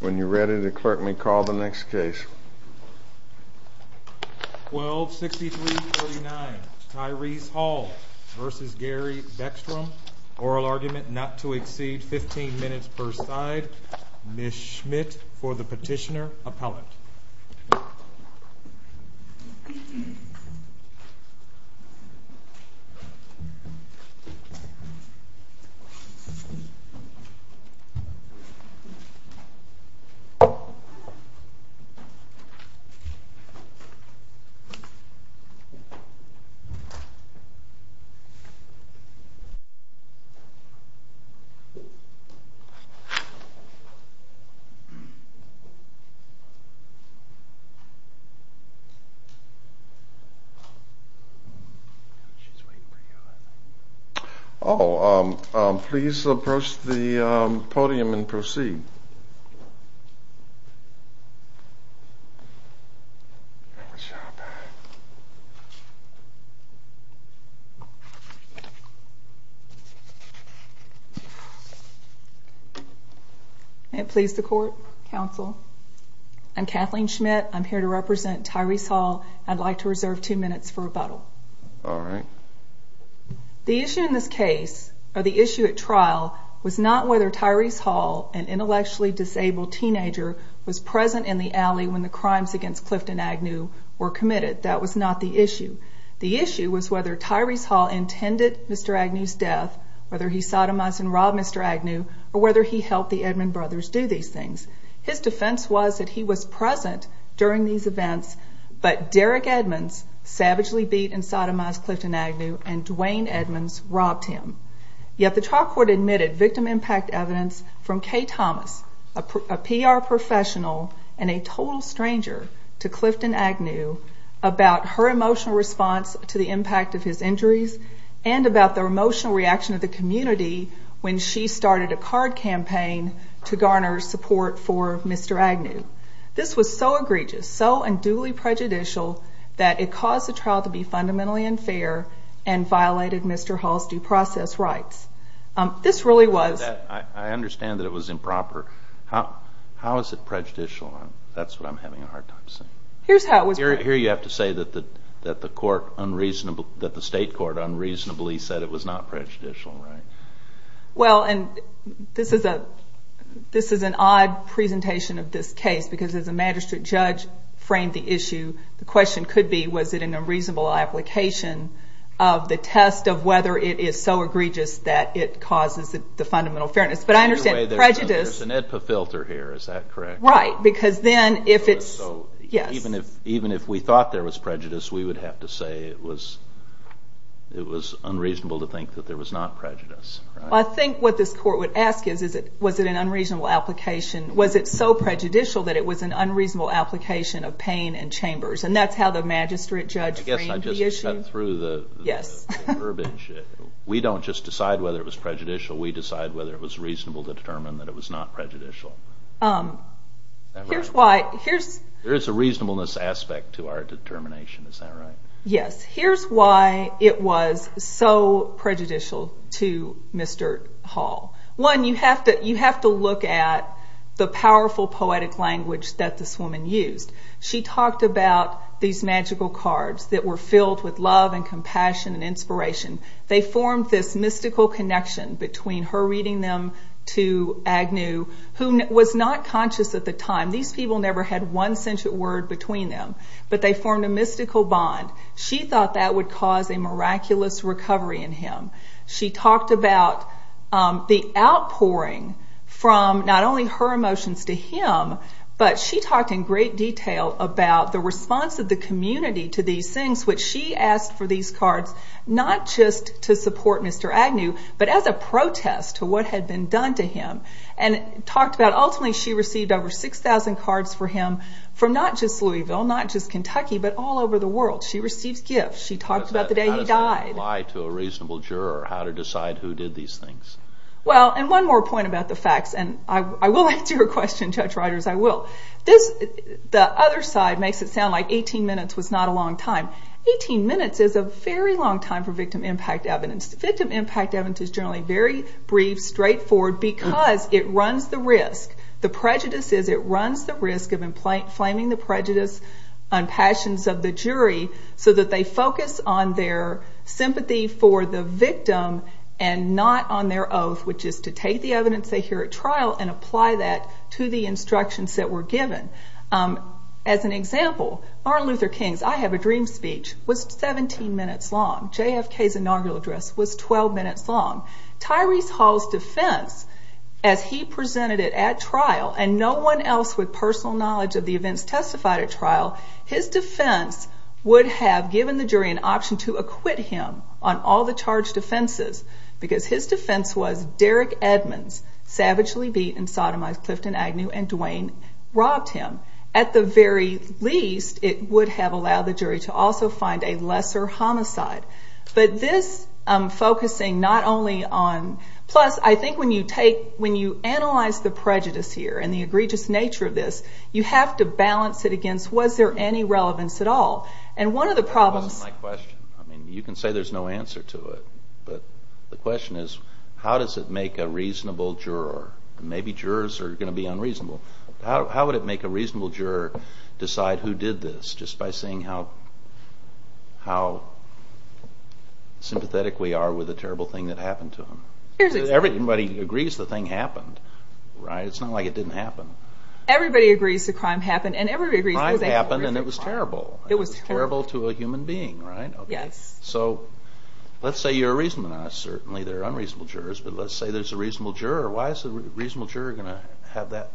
When you're ready, the clerk may call the next case. 12 63 39 Tyrese Hall versus Gary Beckstrom. Oral argument not to exceed 15 minutes per side. Miss Schmidt for the petitioner appellate. Oh, please approach the podium and proceed. And please the court, counsel. I'm Kathleen Schmidt. I'm here to represent Tyrese Hall. I'd like to reserve two minutes for rebuttal. All right. The issue in this case, or the issue at trial was not whether Tyrese Hall and the intellectually disabled teenager was present in the alley when the crimes against Clifton Agnew were committed. That was not the issue. The issue was whether Tyrese Hall intended Mr. Agnew's death, whether he sodomized and robbed Mr. Agnew, or whether he helped the Edmond brothers do these things. His defense was that he was present during these events, but Derek Edmonds savagely beat and sodomized Clifton Agnew and Dwayne Edmonds robbed him. Yet the trial court admitted victim impact evidence from Kay Thomas, a PR professional and a total stranger to Clifton Agnew about her emotional response to the impact of his injuries and about the emotional reaction of the community when she started a card campaign to garner support for Mr. Agnew. This was so egregious, so unduly prejudicial that it caused the trial to be fundamentally unfair and violated Mr. Hall's due process rights. This really was... I understand that it was improper. How is it prejudicial? That's what I'm having a hard time seeing. Here's how it was... Here you have to say that the court unreasonably... That the state court unreasonably said it was not prejudicial, right? Well, and this is an odd presentation of this case, because as a magistrate judge framed the issue, the question could be, was it an unreasonable application of the test of whether it is so egregious that it causes the fundamental fairness? But I understand prejudice... There's an AEDPA filter here, is that correct? Right, because then if it's... Yes. Even if we thought there was prejudice, we would have to say it was unreasonable to think that there was not prejudice, right? I think what this court would ask is, was it an unreasonable application? Was it so prejudicial that it was an unreasonable application of Payne and Chambers? And that's how the magistrate judge framed the issue. I guess I just cut through the... Yes. The verbiage. We don't just decide whether it was prejudicial, we decide whether it was reasonable to determine that it was not prejudicial. Here's why... Here's... There is a reasonableness aspect to our determination, is that right? Yes. Here's why it was so prejudicial to Mr. Hall. One, you have to look at the powerful poetic language that this woman used. She talked about these magical cards that were filled with love and compassion and inspiration. They formed this mystical connection between her reading them to Agnew, who was not conscious at the time. These people never had one sentient word between them, but they formed a mystical bond. She thought that would cause a miraculous recovery in him. She talked about the outpouring from not only her emotions to him, but she talked in great detail about the response of the community to these things, which she asked for these cards, not just to support Mr. Agnew, but as a protest to what had been done to him. And talked about, ultimately, she received over 6,000 cards for him from not just Louisville, not just Kentucky, but all over the world. She receives gifts. She talked about the day he died. How does that apply to a reasonable juror, how to decide who did these things? Well, and one more point about the facts, and I will answer your question, Judge Rodgers, I will. The other side makes it sound like 18 minutes was not a long time. 18 minutes is a very long time for victim impact evidence. Victim impact evidence is generally very brief, straightforward, because it runs the risk. The prejudice is it runs the risk of inflaming the prejudice and passions of the jury, so that they focus on their sympathy for the victim and not on their oath, which is to take the evidence they hear at trial and apply that to the instructions that were given. As an example, Martin Luther King's I Have a Dream speech was 17 minutes long. JFK's inaugural address was 12 minutes long. Tyrese Hall's defense, as he presented it at trial, and no one else with personal knowledge of the events testified at trial, his defense would have given the jury an option to acquit him on all the charged defenses, because his defense was Derek Edmonds savagely beat and sodomized Clifton Agnew, and Duane robbed him. At the very least, it would have allowed the jury to also find a lesser homicide. But this focusing not only on... Plus, I think when you take... When you analyze the prejudice here and the egregious nature of this, you have to balance it against, was there any relevance at all? And one of the problems... That wasn't my question. You can say there's no answer to it, but the question is, how does it make a reasonable juror? Maybe jurors are gonna be unreasonable. How would it make a reasonable juror decide who did this, just by seeing how sympathetic we are with the terrible thing that happened to him? Everybody agrees the thing happened, right? It's not like it didn't happen. Everybody agrees the crime happened, and everybody agrees... Crime happened, and it was terrible. It was terrible to a human being, right? Yes. So, let's say you're a reasonable... Now, certainly there are unreasonable jurors, but let's say there's a reasonable juror. Why is a reasonable juror gonna have that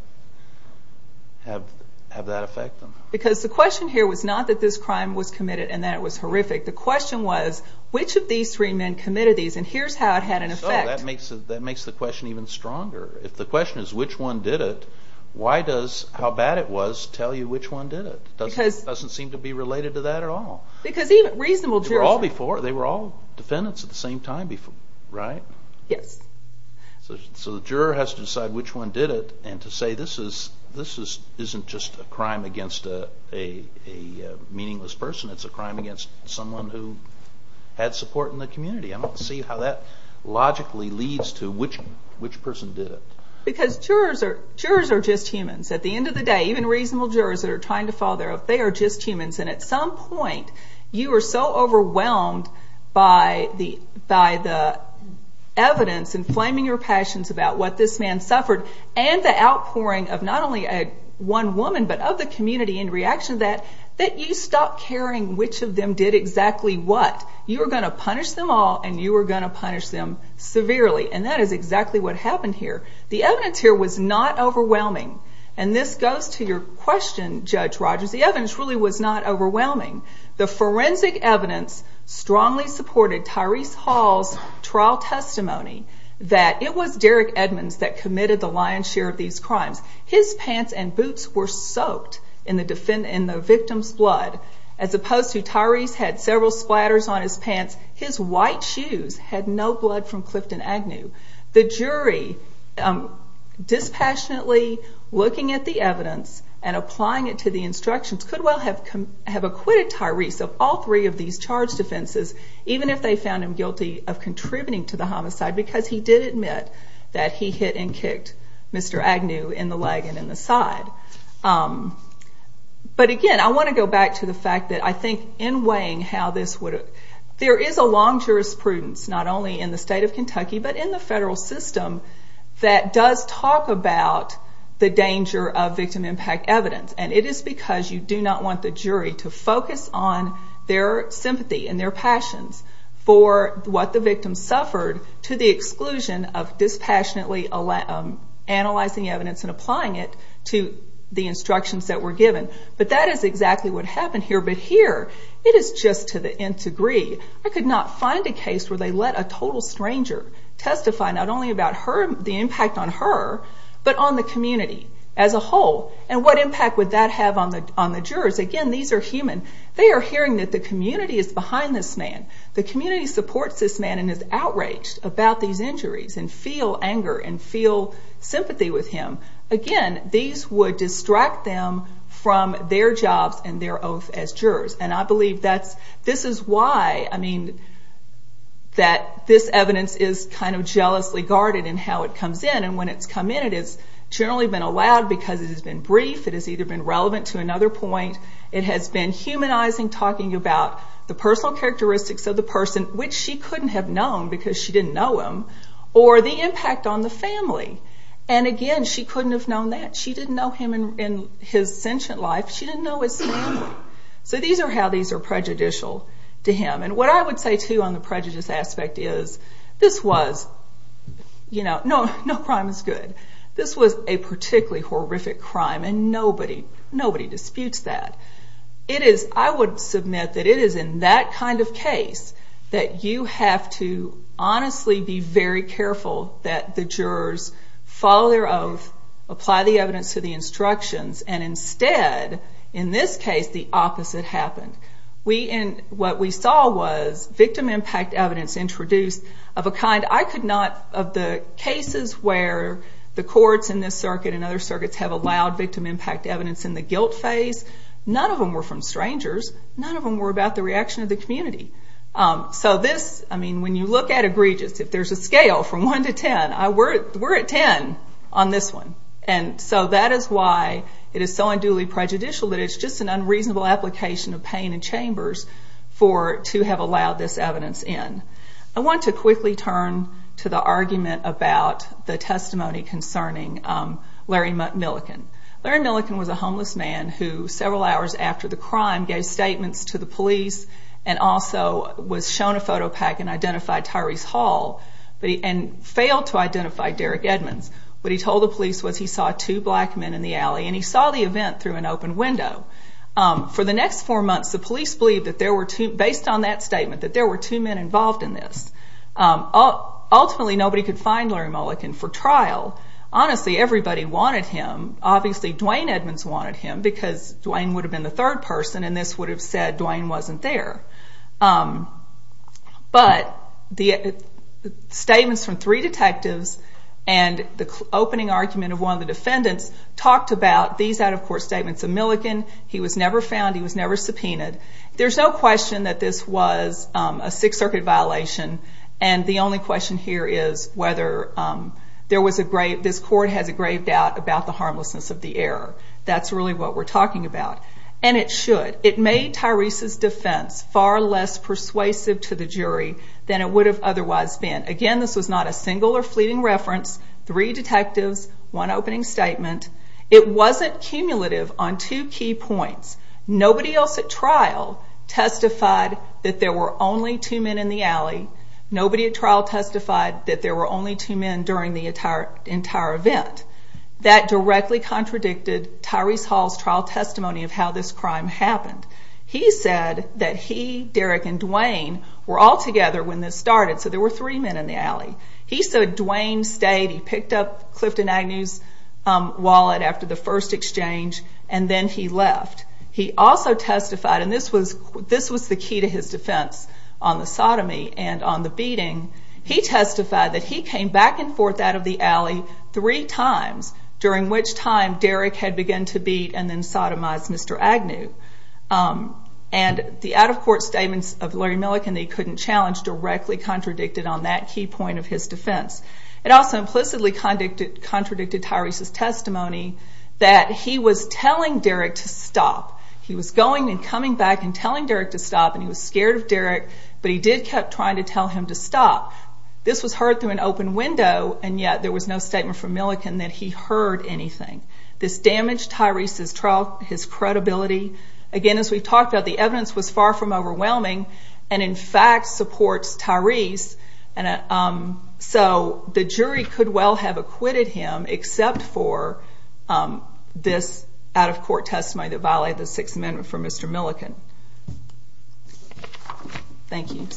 affect them? Because the question here was not that this crime was committed and that it was horrific. The question was, which of these three men committed these, and here's how it had an effect. So, that makes the question even stronger. If the question is, which one did it, why does how bad it was tell you which one did it? Because... It doesn't seem to be related to that at all. Because even reasonable jurors... They were all before, they were all defendants at the same time before, right? Yes. So, the juror has to decide which one did it, and to say, this isn't just a crime against a meaningless person, it's a crime against someone who had support in the community. I don't see how that logically leads to which person did it. Because jurors are just humans. At the end of the day, even reasonable jurors that are trying to follow their oath, they are just humans. And at some point, you are so overwhelmed by the evidence and flaming your passions about what this man suffered, and the outpouring of not only one woman, but of the community in reaction to that, that you stop caring which of them did exactly what. You are gonna punish them all, and you are gonna punish them severely. And that is exactly what happened here. The evidence here was not overwhelming. And this goes to your question, Judge Rogers, the evidence really was not overwhelming. The forensic evidence strongly supported Tyrese Hall's trial testimony that it was Derek Edmonds that committed the lion's share of these crimes. His pants and boots were soaked in the victim's blood, as opposed to Tyrese had several splatters on his pants, his white shoes had no blood from Clifton Agnew. The jury dispassionately looking at the evidence and applying it to the instructions could well have acquitted Tyrese of all three of these charged offenses, even if they found him guilty of contributing to the homicide, because he did admit that he hit and kicked Mr. Agnew in the leg and in the side. But again, I wanna go back to the fact that I think in weighing how this would... There is a long jurisprudence, not only in the state of Kentucky, but in the federal system that does talk about the danger of victim impact evidence. And it is because you do not want the jury to focus on their sympathy and their passions for what the victim suffered to the exclusion of dispassionately analyzing evidence and applying it to the instructions that were given. But that is exactly what happened here. But here, it is just to the nth degree. I could not find a place where they let a total stranger testify, not only about the impact on her, but on the community as a whole. And what impact would that have on the jurors? Again, these are human. They are hearing that the community is behind this man. The community supports this man and is outraged about these injuries and feel anger and feel sympathy with him. Again, these would distract them from their jobs and their oath as jurors. And I believe this is why this evidence is kind of jealously guarded in how it comes in. And when it has come in, it has generally been allowed because it has been brief, it has either been relevant to another point, it has been humanizing, talking about the personal characteristics of the person, which she could not have known because she did not know him, or the impact on the family. And again, she could not have known that. She did not know him in his sentient life. She did not know his family. So these are how these are prejudicial to him. And what I would say too on the prejudice aspect is, this was... No crime is good. This was a particularly horrific crime and nobody disputes that. It is... I would submit that it is in that kind of case that you have to honestly be very careful that the jurors follow their oath, apply the evidence to the instructions, and instead, in this case, the opposite happened. What we saw was victim impact evidence introduced of a kind I could not... Of the cases where the courts in this circuit and other circuits have allowed victim impact evidence in the guilt phase, none of them were from strangers, none of them were about the reaction of the community. So this, when you look at egregious, if there's a scale from one to 10, we're at 10 on this one. And so that is why it is so unduly prejudicial that it's just an unreasonable application of pain and chambers for... To have allowed this evidence in. I want to quickly turn to the argument about the testimony concerning Larry Millican. Larry Millican was a homeless man who, several hours after the crime, gave statements to the police and also was shown a photo pack and identified Tyrese Hall, and failed to identify Derek Edmonds. What he told the police was he saw two black men in the event through an open window. For the next four months, the police believed that there were two... Based on that statement, that there were two men involved in this. Ultimately, nobody could find Larry Millican for trial. Honestly, everybody wanted him. Obviously, Dwayne Edmonds wanted him because Dwayne would have been the third person and this would have said Dwayne wasn't there. But the statements from three detectives and the opening argument of one of the defendants talked about these out of court statements of Millican. He was never found. He was never subpoenaed. There's no question that this was a Sixth Circuit violation. And the only question here is whether there was a grave... This court has a grave doubt about the harmlessness of the error. That's really what we're talking about. And it should. It made Tyrese's defense far less persuasive to the jury than it would have otherwise been. Again, this was not a single or fleeting reference. Three detectives, one opening statement. It wasn't cumulative on two key points. Nobody else at trial testified that there were only two men in the alley. Nobody at trial testified that there were only two men during the entire event. That directly contradicted Tyrese Hall's trial testimony of how this crime happened. He said that he, Derek, and Dwayne were all together when this started, so there were three men in the alley. He said Dwayne stayed. He picked up Clifton Agnew's wallet after the first exchange, and then he left. He also testified, and this was the key to his defense on the sodomy and on the beating. He testified that he came back and forth out of the alley three times, during which time Derek had begun to beat and then sodomize Mr. Agnew. And the out of court statements of Larry Millican that he couldn't challenge directly contradicted on that key point of his defense. It also implicitly contradicted Tyrese's testimony that he was telling Derek to stop. He was going and coming back and telling Derek to stop, and he was scared of Derek, but he did kept trying to tell him to stop. This was heard through an open window, and yet there was no statement from Millican that he heard anything. This damaged Tyrese's credibility. Again, as we've talked about, the evidence was far from overwhelming, and in fact supports Tyrese. So the jury could well have acquitted him, except for this out of court testimony that violated the Sixth Amendment from Mr. Millican. Thank you.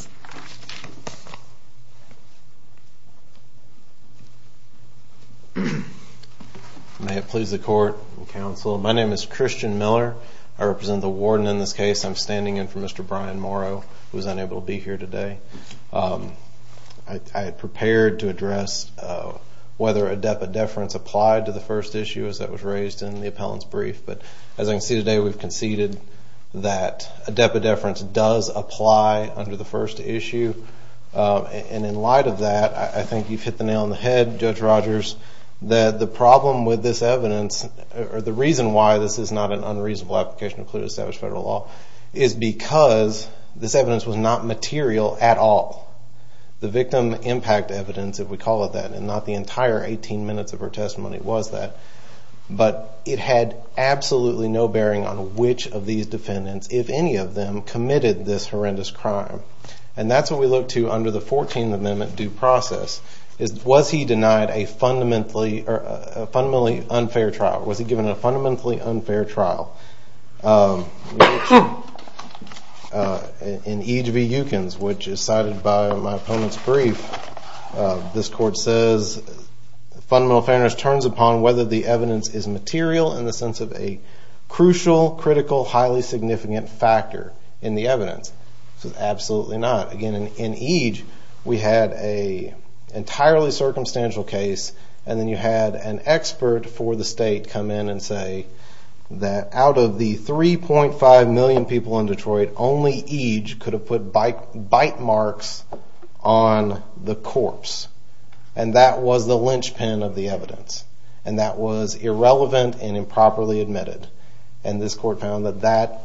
May it please the court and counsel. My name is Christian Miller. I represent the warden in this case. I'm standing in for Mr. Brian Morrow, who's unable to be here today. I had prepared to address whether a deputy deference applied to the first issue as that was raised in the appellant's brief, but as I can see today, we've conceded that a deputy deference does apply under the first issue. And in light of that, I think you've hit the nail on the head, Judge Rogers, that the problem with this evidence, or the reason why this is not an unreasonable application to include established federal law, is because this evidence was not material at all. The victim impact evidence, if we call it that, and not the entire 18 minutes of her testimony was that, but it had absolutely no bearing on which of these defendants, if any of them, committed this horrendous crime. And that's what we look to under the 14th Amendment due process. Was he denied a fundamentally unfair trial? Was he given a fundamentally unfair trial? In Eage v. Eukins, which is cited by my opponent's brief, this court says, fundamental fairness turns upon whether the evidence is material in the sense of a crucial, critical, highly significant factor in the evidence. This is absolutely not. Again, in Eage, we had a entirely circumstantial case, and then you had an expert for the state come in and say that out of the 3.5 million people in Detroit, only Eage could have put bite marks on the corpse. And that was the linchpin of the evidence, and that was irrelevant and improperly admitted. And this court found that that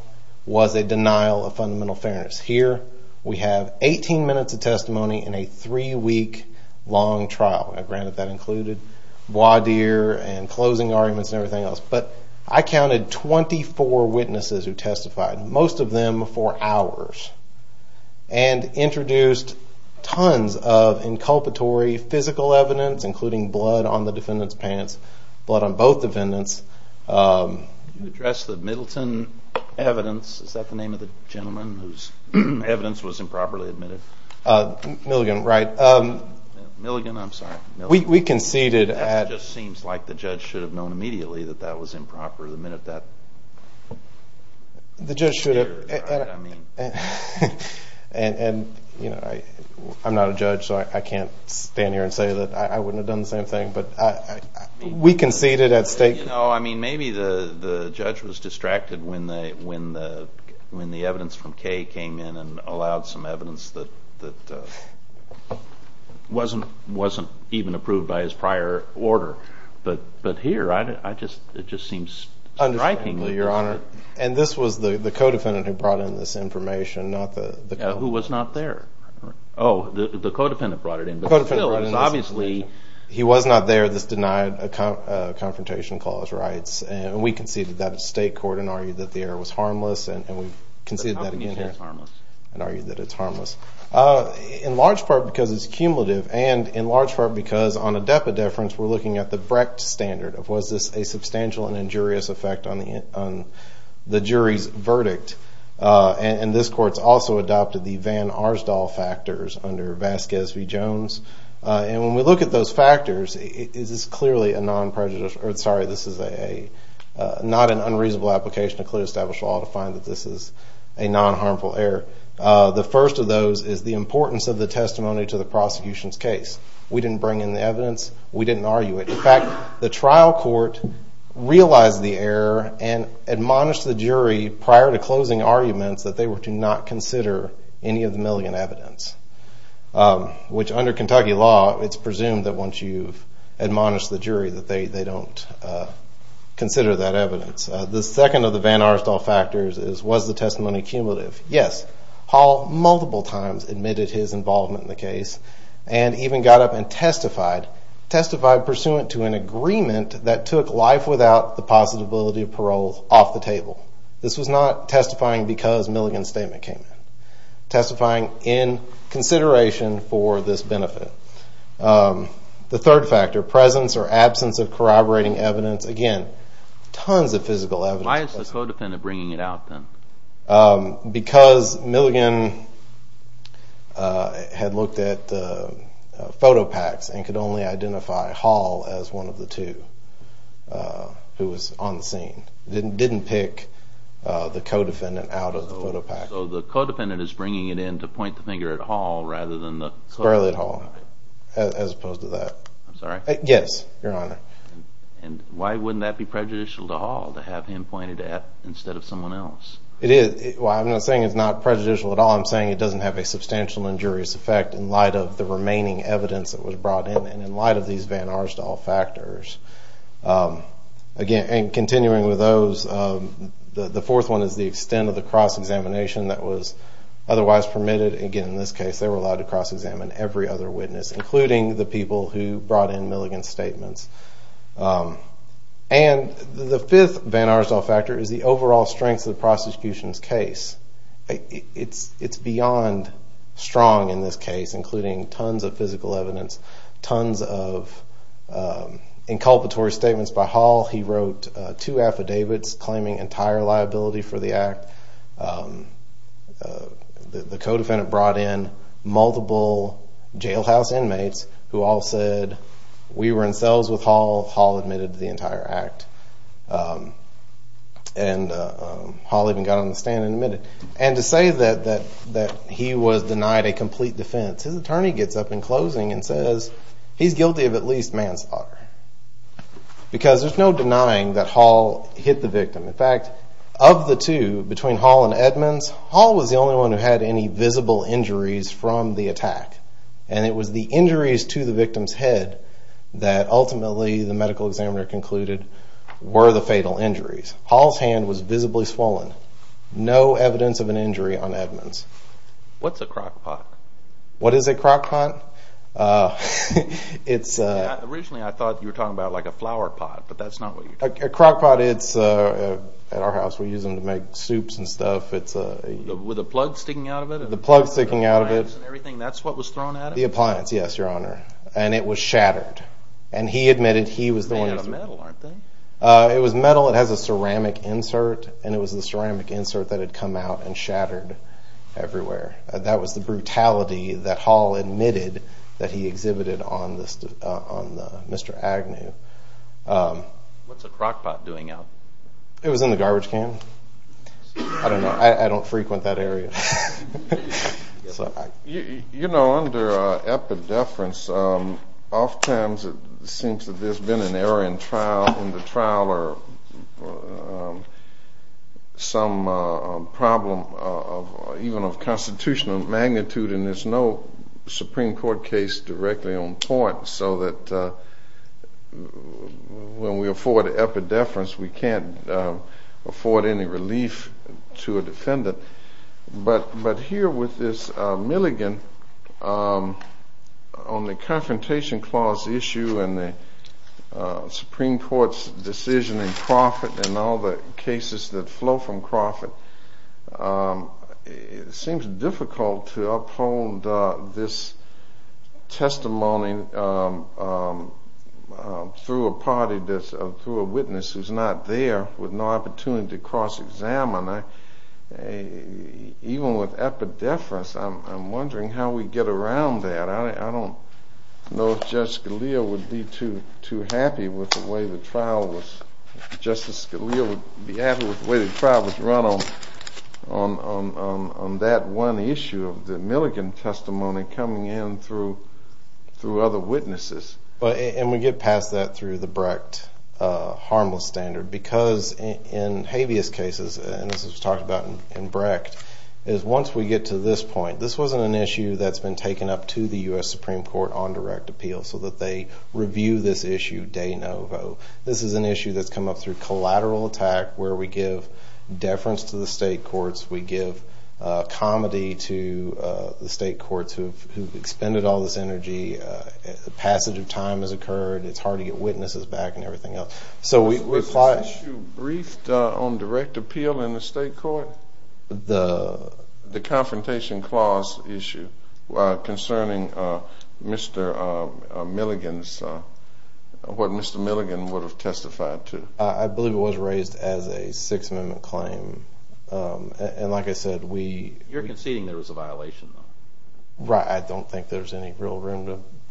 was a denial of fundamental fairness. Here, we have 18 minutes of testimony in a three week long trial. Granted, that included voir dire and closing arguments and everything else, but I counted 24 witnesses who testified, most of them for hours, and introduced tons of inculpatory physical evidence, including blood on the defendant's pants, blood on both defendants. Can you address the Middleton evidence? Is that the name of the gentleman whose evidence was improperly admitted? Milligan, right. Milligan, I'm sorry. We conceded at... It just seems like the judge should have known immediately that that was improper the minute that... The judge should have... And I'm not a judge, so I can't stand here and say that I wouldn't have done the same thing, but we conceded at stake. Maybe the judge was distracted when the evidence from Kaye came in and allowed some evidence that wasn't even approved by his prior order. But here, it just seems striking. Understandably, Your Honor. And this was the co defendant who brought in this information, not the... Yeah, who was not there. Oh, the co defendant brought it in. The co defendant brought it in. Obviously, he was not there. This denied a confrontation clause rights, and we conceded that at stake court and argued that the error was harmless, and we conceded that... How can you say it's harmless? And argued that it's harmless. In large part, because it's cumulative, and in large part, because on a depth of deference, we're looking at the Brecht standard of, was this a substantial and injurious effect on the jury's verdict? And this court's also adopted the Van Arsdal factors under Vasquez v. Jones. And when we look at those factors, it is clearly a non prejudice... Sorry, this is not an unreasonable application to clear established law to find that this is a non harmful error. The first of those is the importance of the testimony to the prosecution's case. We didn't bring in the evidence, we didn't argue it. In fact, the trial court realized the error and admonished the jury prior to closing arguments that they were to not consider any of the Milligan evidence, which under Kentucky law, it's presumed that once you've admonished the jury that they don't consider that evidence. The second of the Van Arsdal factors is, was the testimony cumulative? Yes. Hall multiple times admitted his involvement in the case and even got up and testified, testified pursuant to an agreement that took life without the possibility of parole off the table. This was not testifying because Milligan's statement came in. Testifying in consideration for this benefit. The third factor, presence or absence of corroborating evidence. Again, tons of physical evidence. Why is the co defendant bringing it out then? Because Milligan had looked at the photo packs and could only identify Hall as one of the two who was on the scene. Didn't pick the co defendant out of the photo pack. So the co defendant is bringing it in to point the finger at Hall rather than the... Sparely at Hall, as opposed to that. I'm sorry? Yes, your honor. And why wouldn't that be prejudicial to Hall to have him pointed at instead of someone else? It is. Well, I'm not saying it's not prejudicial at all, I'm saying it doesn't have a substantial injurious effect in light of the remaining evidence that was brought in and in the Van Arsdall factors. Again, and continuing with those, the fourth one is the extent of the cross examination that was otherwise permitted. Again, in this case, they were allowed to cross examine every other witness, including the people who brought in Milligan's statements. And the fifth Van Arsdall factor is the overall strength of the prosecution's case. It's beyond strong in this case, including tons of physical evidence, tons of inculpatory statements by Hall. He wrote two affidavits claiming entire liability for the act. The co defendant brought in multiple jailhouse inmates who all said, we were in sales with Hall, Hall admitted to the entire act. And Hall even got on the stand and admitted. And to say that he was denied a complete defense, his attorney gets up in closing and says, he's guilty of at least manslaughter. Because there's no denying that Hall hit the victim. In fact, of the two, between Hall and Edmonds, Hall was the only one who had any visible injuries from the attack. And it was the injuries to the victim's head that ultimately the medical examiner concluded were the fatal injuries. Hall's hand was visibly swollen, no evidence of an injury on Edmonds. What's a crockpot? What is a crockpot? It's... Originally, I thought you were talking about like a flowerpot, but that's not what you're talking about. A crockpot, it's... At our house, we use them to make soups and stuff. It's a... With a plug sticking out of it? The plug sticking out of it. The appliance and everything, that's what was thrown at it? The appliance, yes, your honor. And it was shattered. And he admitted he was the one... They're made out of metal, aren't they? It was metal, it has a ceramic insert, and it was the ceramic insert that had come out and shattered everywhere. That was the brutality that Hall admitted that he exhibited on the... Mr. Agnew. What's a crockpot doing out? It was in the garbage can. I don't know, I don't frequent that area. You know, under epidepherence, oftentimes it seems that there's been an error in the trial, or some problem even of constitutional magnitude, and there's no Supreme Court case directly on point, so that when we afford epidepherence, we can't afford any relief to a defendant. But here with this Milligan, on the Confrontation Clause issue, and the Supreme Court's decision in Crawford, and all the cases that flow from Crawford, it seems difficult to uphold this testimony through a party that's... Through a witness who's not there with no opportunity to cross examine. Even with epidepherence, I'm wondering how we get around that. I don't know if Judge Scalia would be too happy with the way the trial was... Justice Scalia would be happy with the way the trial was run on that one issue of the Milligan testimony coming in through other witnesses. And we get past that through the Brecht harmless standard, because in habeas cases, and this was talked about in Brecht, is once we get to this point, this wasn't an issue that's been taken up to the US Supreme Court on direct appeal, so that they review this issue de novo. This is an issue that's come up through collateral attack, where we give deference to the state courts, we give comedy to the state courts who've expended all this energy, a passage of time has occurred, it's hard to get witnesses back and everything else. So we... Was this issue briefed on direct appeal in the state court? The... The confrontation clause issue, concerning what Mr. Milligan would have testified to. I believe it was raised as a Sixth Amendment claim. And like I said, we... You're conceding there was a violation though. Right, I don't think there's any real room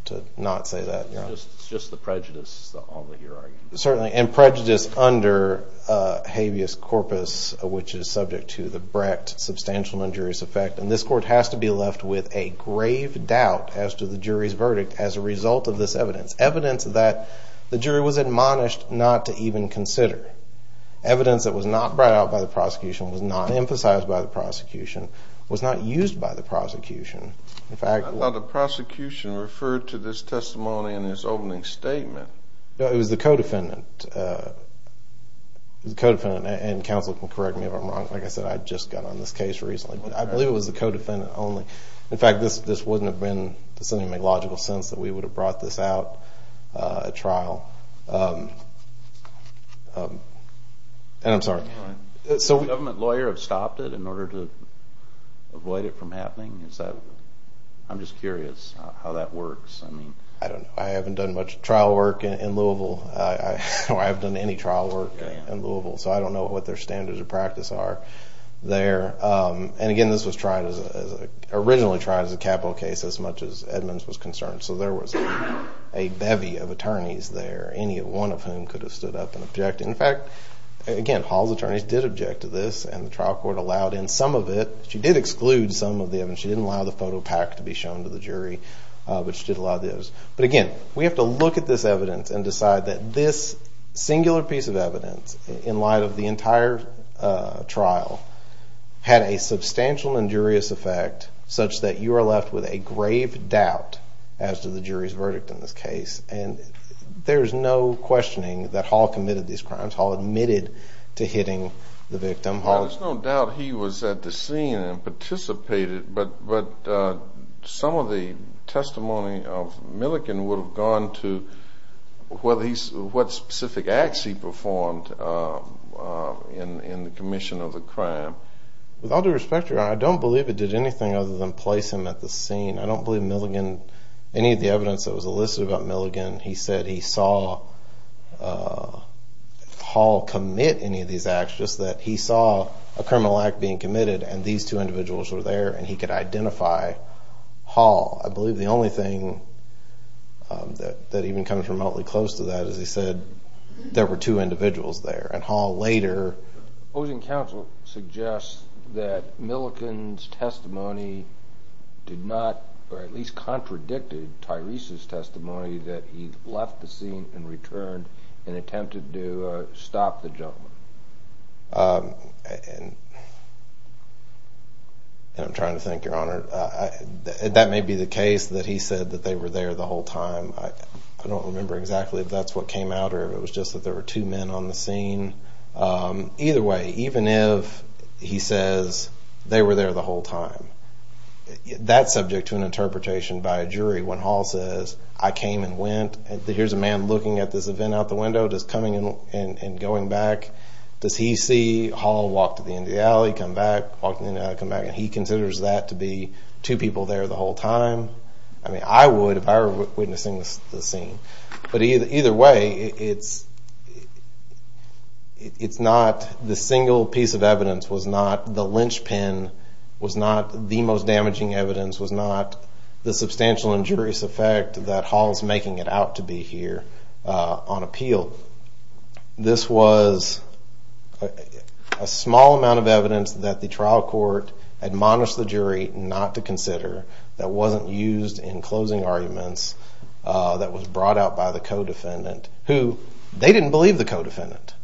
to not say that. It's just the prejudice, is all that you're arguing. Certainly, and prejudice under habeas corpus, which is subject to the Brecht substantial injurious effect. And this court has to be left with a grave doubt as to the jury's verdict as a result of this evidence. Evidence that the jury was admonished not to even consider. Evidence that was not brought out by the prosecution, was not emphasized by the prosecution, was not used by the prosecution. In fact... I thought the prosecution referred to this testimony in his opening statement. No, it was the co defendant. It was the co defendant, and counsel can correct me if I'm wrong. Like I said, I just got on this case recently, but I believe it was the co defendant only. In fact, this wouldn't have been... It doesn't even make logical sense that we would have brought this out at trial. And I'm sorry. So... Would a government lawyer have stopped it in order to avoid it from happening? Is that... I'm just curious how that works. I don't know. I haven't done much trial work in Louisville. I haven't done any trial work in Louisville, so I don't know what their standards of practice are there. And again, this was tried as... Originally tried as a capital case as much as Edmonds was concerned. So there was a bevy of attorneys there, any one of whom could have stood up and objected. In fact, again, Hall's attorneys did object to this, and the trial court allowed in some of it. She did exclude some of the evidence. She didn't allow the photo pack to be shown to the jury, which did allow this. But again, we have to look at this evidence and decide that this singular piece of evidence, in light of the entire trial, had a substantial injurious effect such that you are left with a grave doubt as to the jury's verdict in this case. And there's no questioning that Hall committed these crimes. Hall admitted to hitting the victim. Hall... There's no doubt he was at the scene and participated, but some of the testimony of Milligan would have gone to whether he's... What specific acts he performed in the commission of the crime. With all due respect, Your Honor, I don't believe it did anything other than place him at the scene. I don't believe Milligan... Any of the evidence that was elicited about Milligan, he said he saw Hall commit any of these acts, just that he saw a criminal act being committed, and these two individuals were there, and he could identify Hall. I believe the only thing that even comes remotely close to that is he said there were two individuals there, and Hall later... Opposing counsel suggests that Milligan's testimony did not, or at least contradicted Tyrese's testimony that he left the scene and returned and attempted to stop the gentleman. And I'm trying to think, Your Honor. That may be the case that he said that they were there the whole time. I don't remember exactly if that's what came out or if it was just that there were two men on the scene. Either way, even if he says they were there the whole time, that's subject to an interpretation by a jury. When Hall says, I came and went, here's a man looking at this going back, does he see Hall walk to the end of the alley, come back, walk to the end of the alley, come back, and he considers that to be two people there the whole time? I mean, I would if I were witnessing the scene. But either way, it's not... The single piece of evidence was not... The lynch pin was not the most damaging evidence, was not the substantial injurious effect that Hall's making it out to be here on appeal. This was a small amount of evidence that the trial court admonished the jury not to consider, that wasn't used in closing arguments, that was brought out by the co-defendant, who... They didn't believe the co-defendant.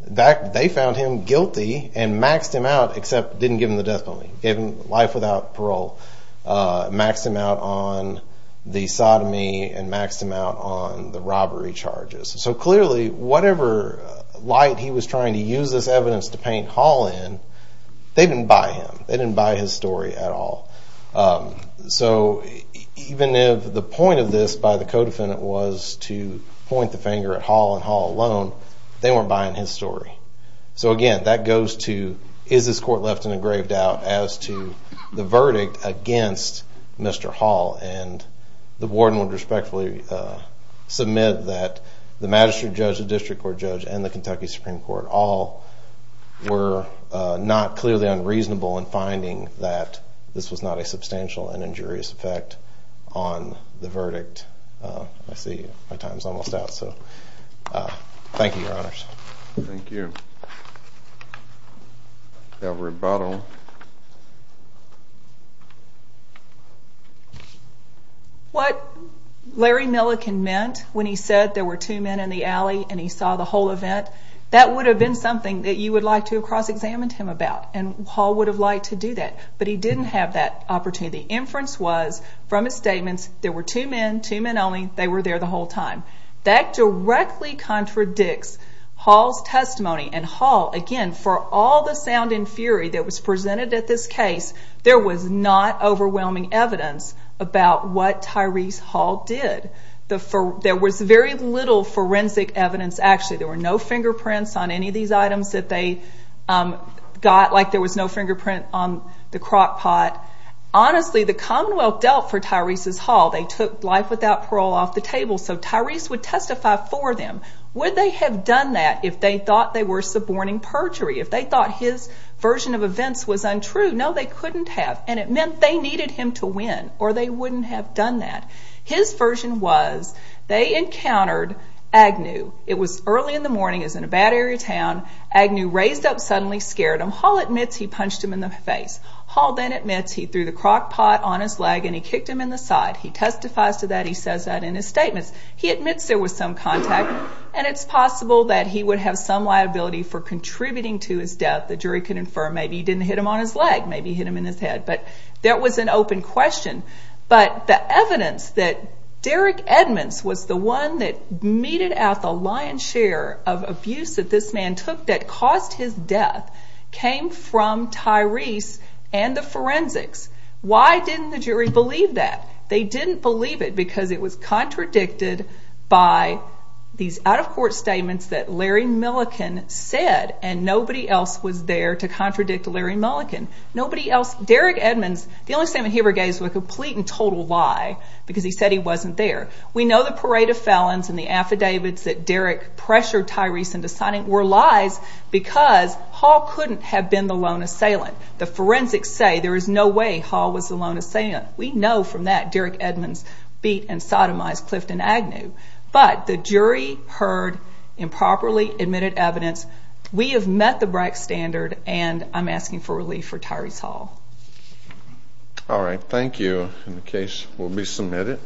They found him guilty and maxed him out, except didn't give him the death penalty. Gave him life without parole. Maxed him out on the sodomy and maxed him out on the robbery charges. So clearly, whatever light he was trying to use this evidence to paint Hall in, they didn't buy him. They didn't buy his story at all. So even if the point of this by the co-defendant was to point the finger at Hall and Hall alone, they weren't buying his story. So again, that goes to, is this court left in a grave doubt as to the verdict against Mr. Hall? And the warden would respectfully submit that the magistrate judge, the district court judge, and the Kentucky Supreme Court all were not clearly unreasonable in finding that this was not a substantial and injurious effect on the verdict. I see my time's almost out, so thank you, your honors. Thank you. Thank you. That rebuttal. What Larry Milliken meant when he said there were two men in the alley and he saw the whole event, that would have been something that you would like to have cross examined him about, and Hall would have liked to do that, but he didn't have that opportunity. The inference was from his statements, there were two men, two men only, they were there the whole time. That directly contradicts Hall's testimony, and Hall, again, for all the sound and fury that was presented at this case, there was not overwhelming evidence about what Tyrese Hall did. There was very little forensic evidence, actually, there were no fingerprints on any of these items that they got, like there was no fingerprint on the crock pot. Honestly, the Commonwealth dealt for Tyrese's Hall, they took life without parole off the table, so Tyrese would testify for them. Would they have done that if they thought they were suborning perjury, if they thought his version of events was untrue? No, they couldn't have, and it meant they needed him to win or they wouldn't have done that. His version was, they encountered Agnew. It was early in the morning, he was in a bad area town, Agnew raised up suddenly, scared him. Hall admits he punched him in the face. Hall then admits he threw the crock pot on his leg and he testifies to that, he says that in his statements. He admits there was some contact, and it's possible that he would have some liability for contributing to his death. The jury could infer maybe he didn't hit him on his leg, maybe he hit him in his head, but that was an open question. But the evidence that Derek Edmonds was the one that meted out the lion's share of abuse that this man took that caused his death came from Tyrese and the forensics. Why didn't the jury believe that? They didn't believe it because it was contradicted by these out of court statements that Larry Milliken said and nobody else was there to contradict Larry Milliken. Nobody else... Derek Edmonds, the only statement he ever gave was a complete and total lie, because he said he wasn't there. We know the parade of felons and the affidavits that Derek pressured Tyrese into signing were lies, because Hall couldn't have been the lone assailant. The forensics say there is no way Hall was the lone assailant. We know from that Derek Edmonds beat and sodomized Clifton Agnew, but the jury heard improperly admitted evidence. We have met the right standard and I'm asking for relief for Tyrese Hall. Alright, thank you. And the case will be submitted.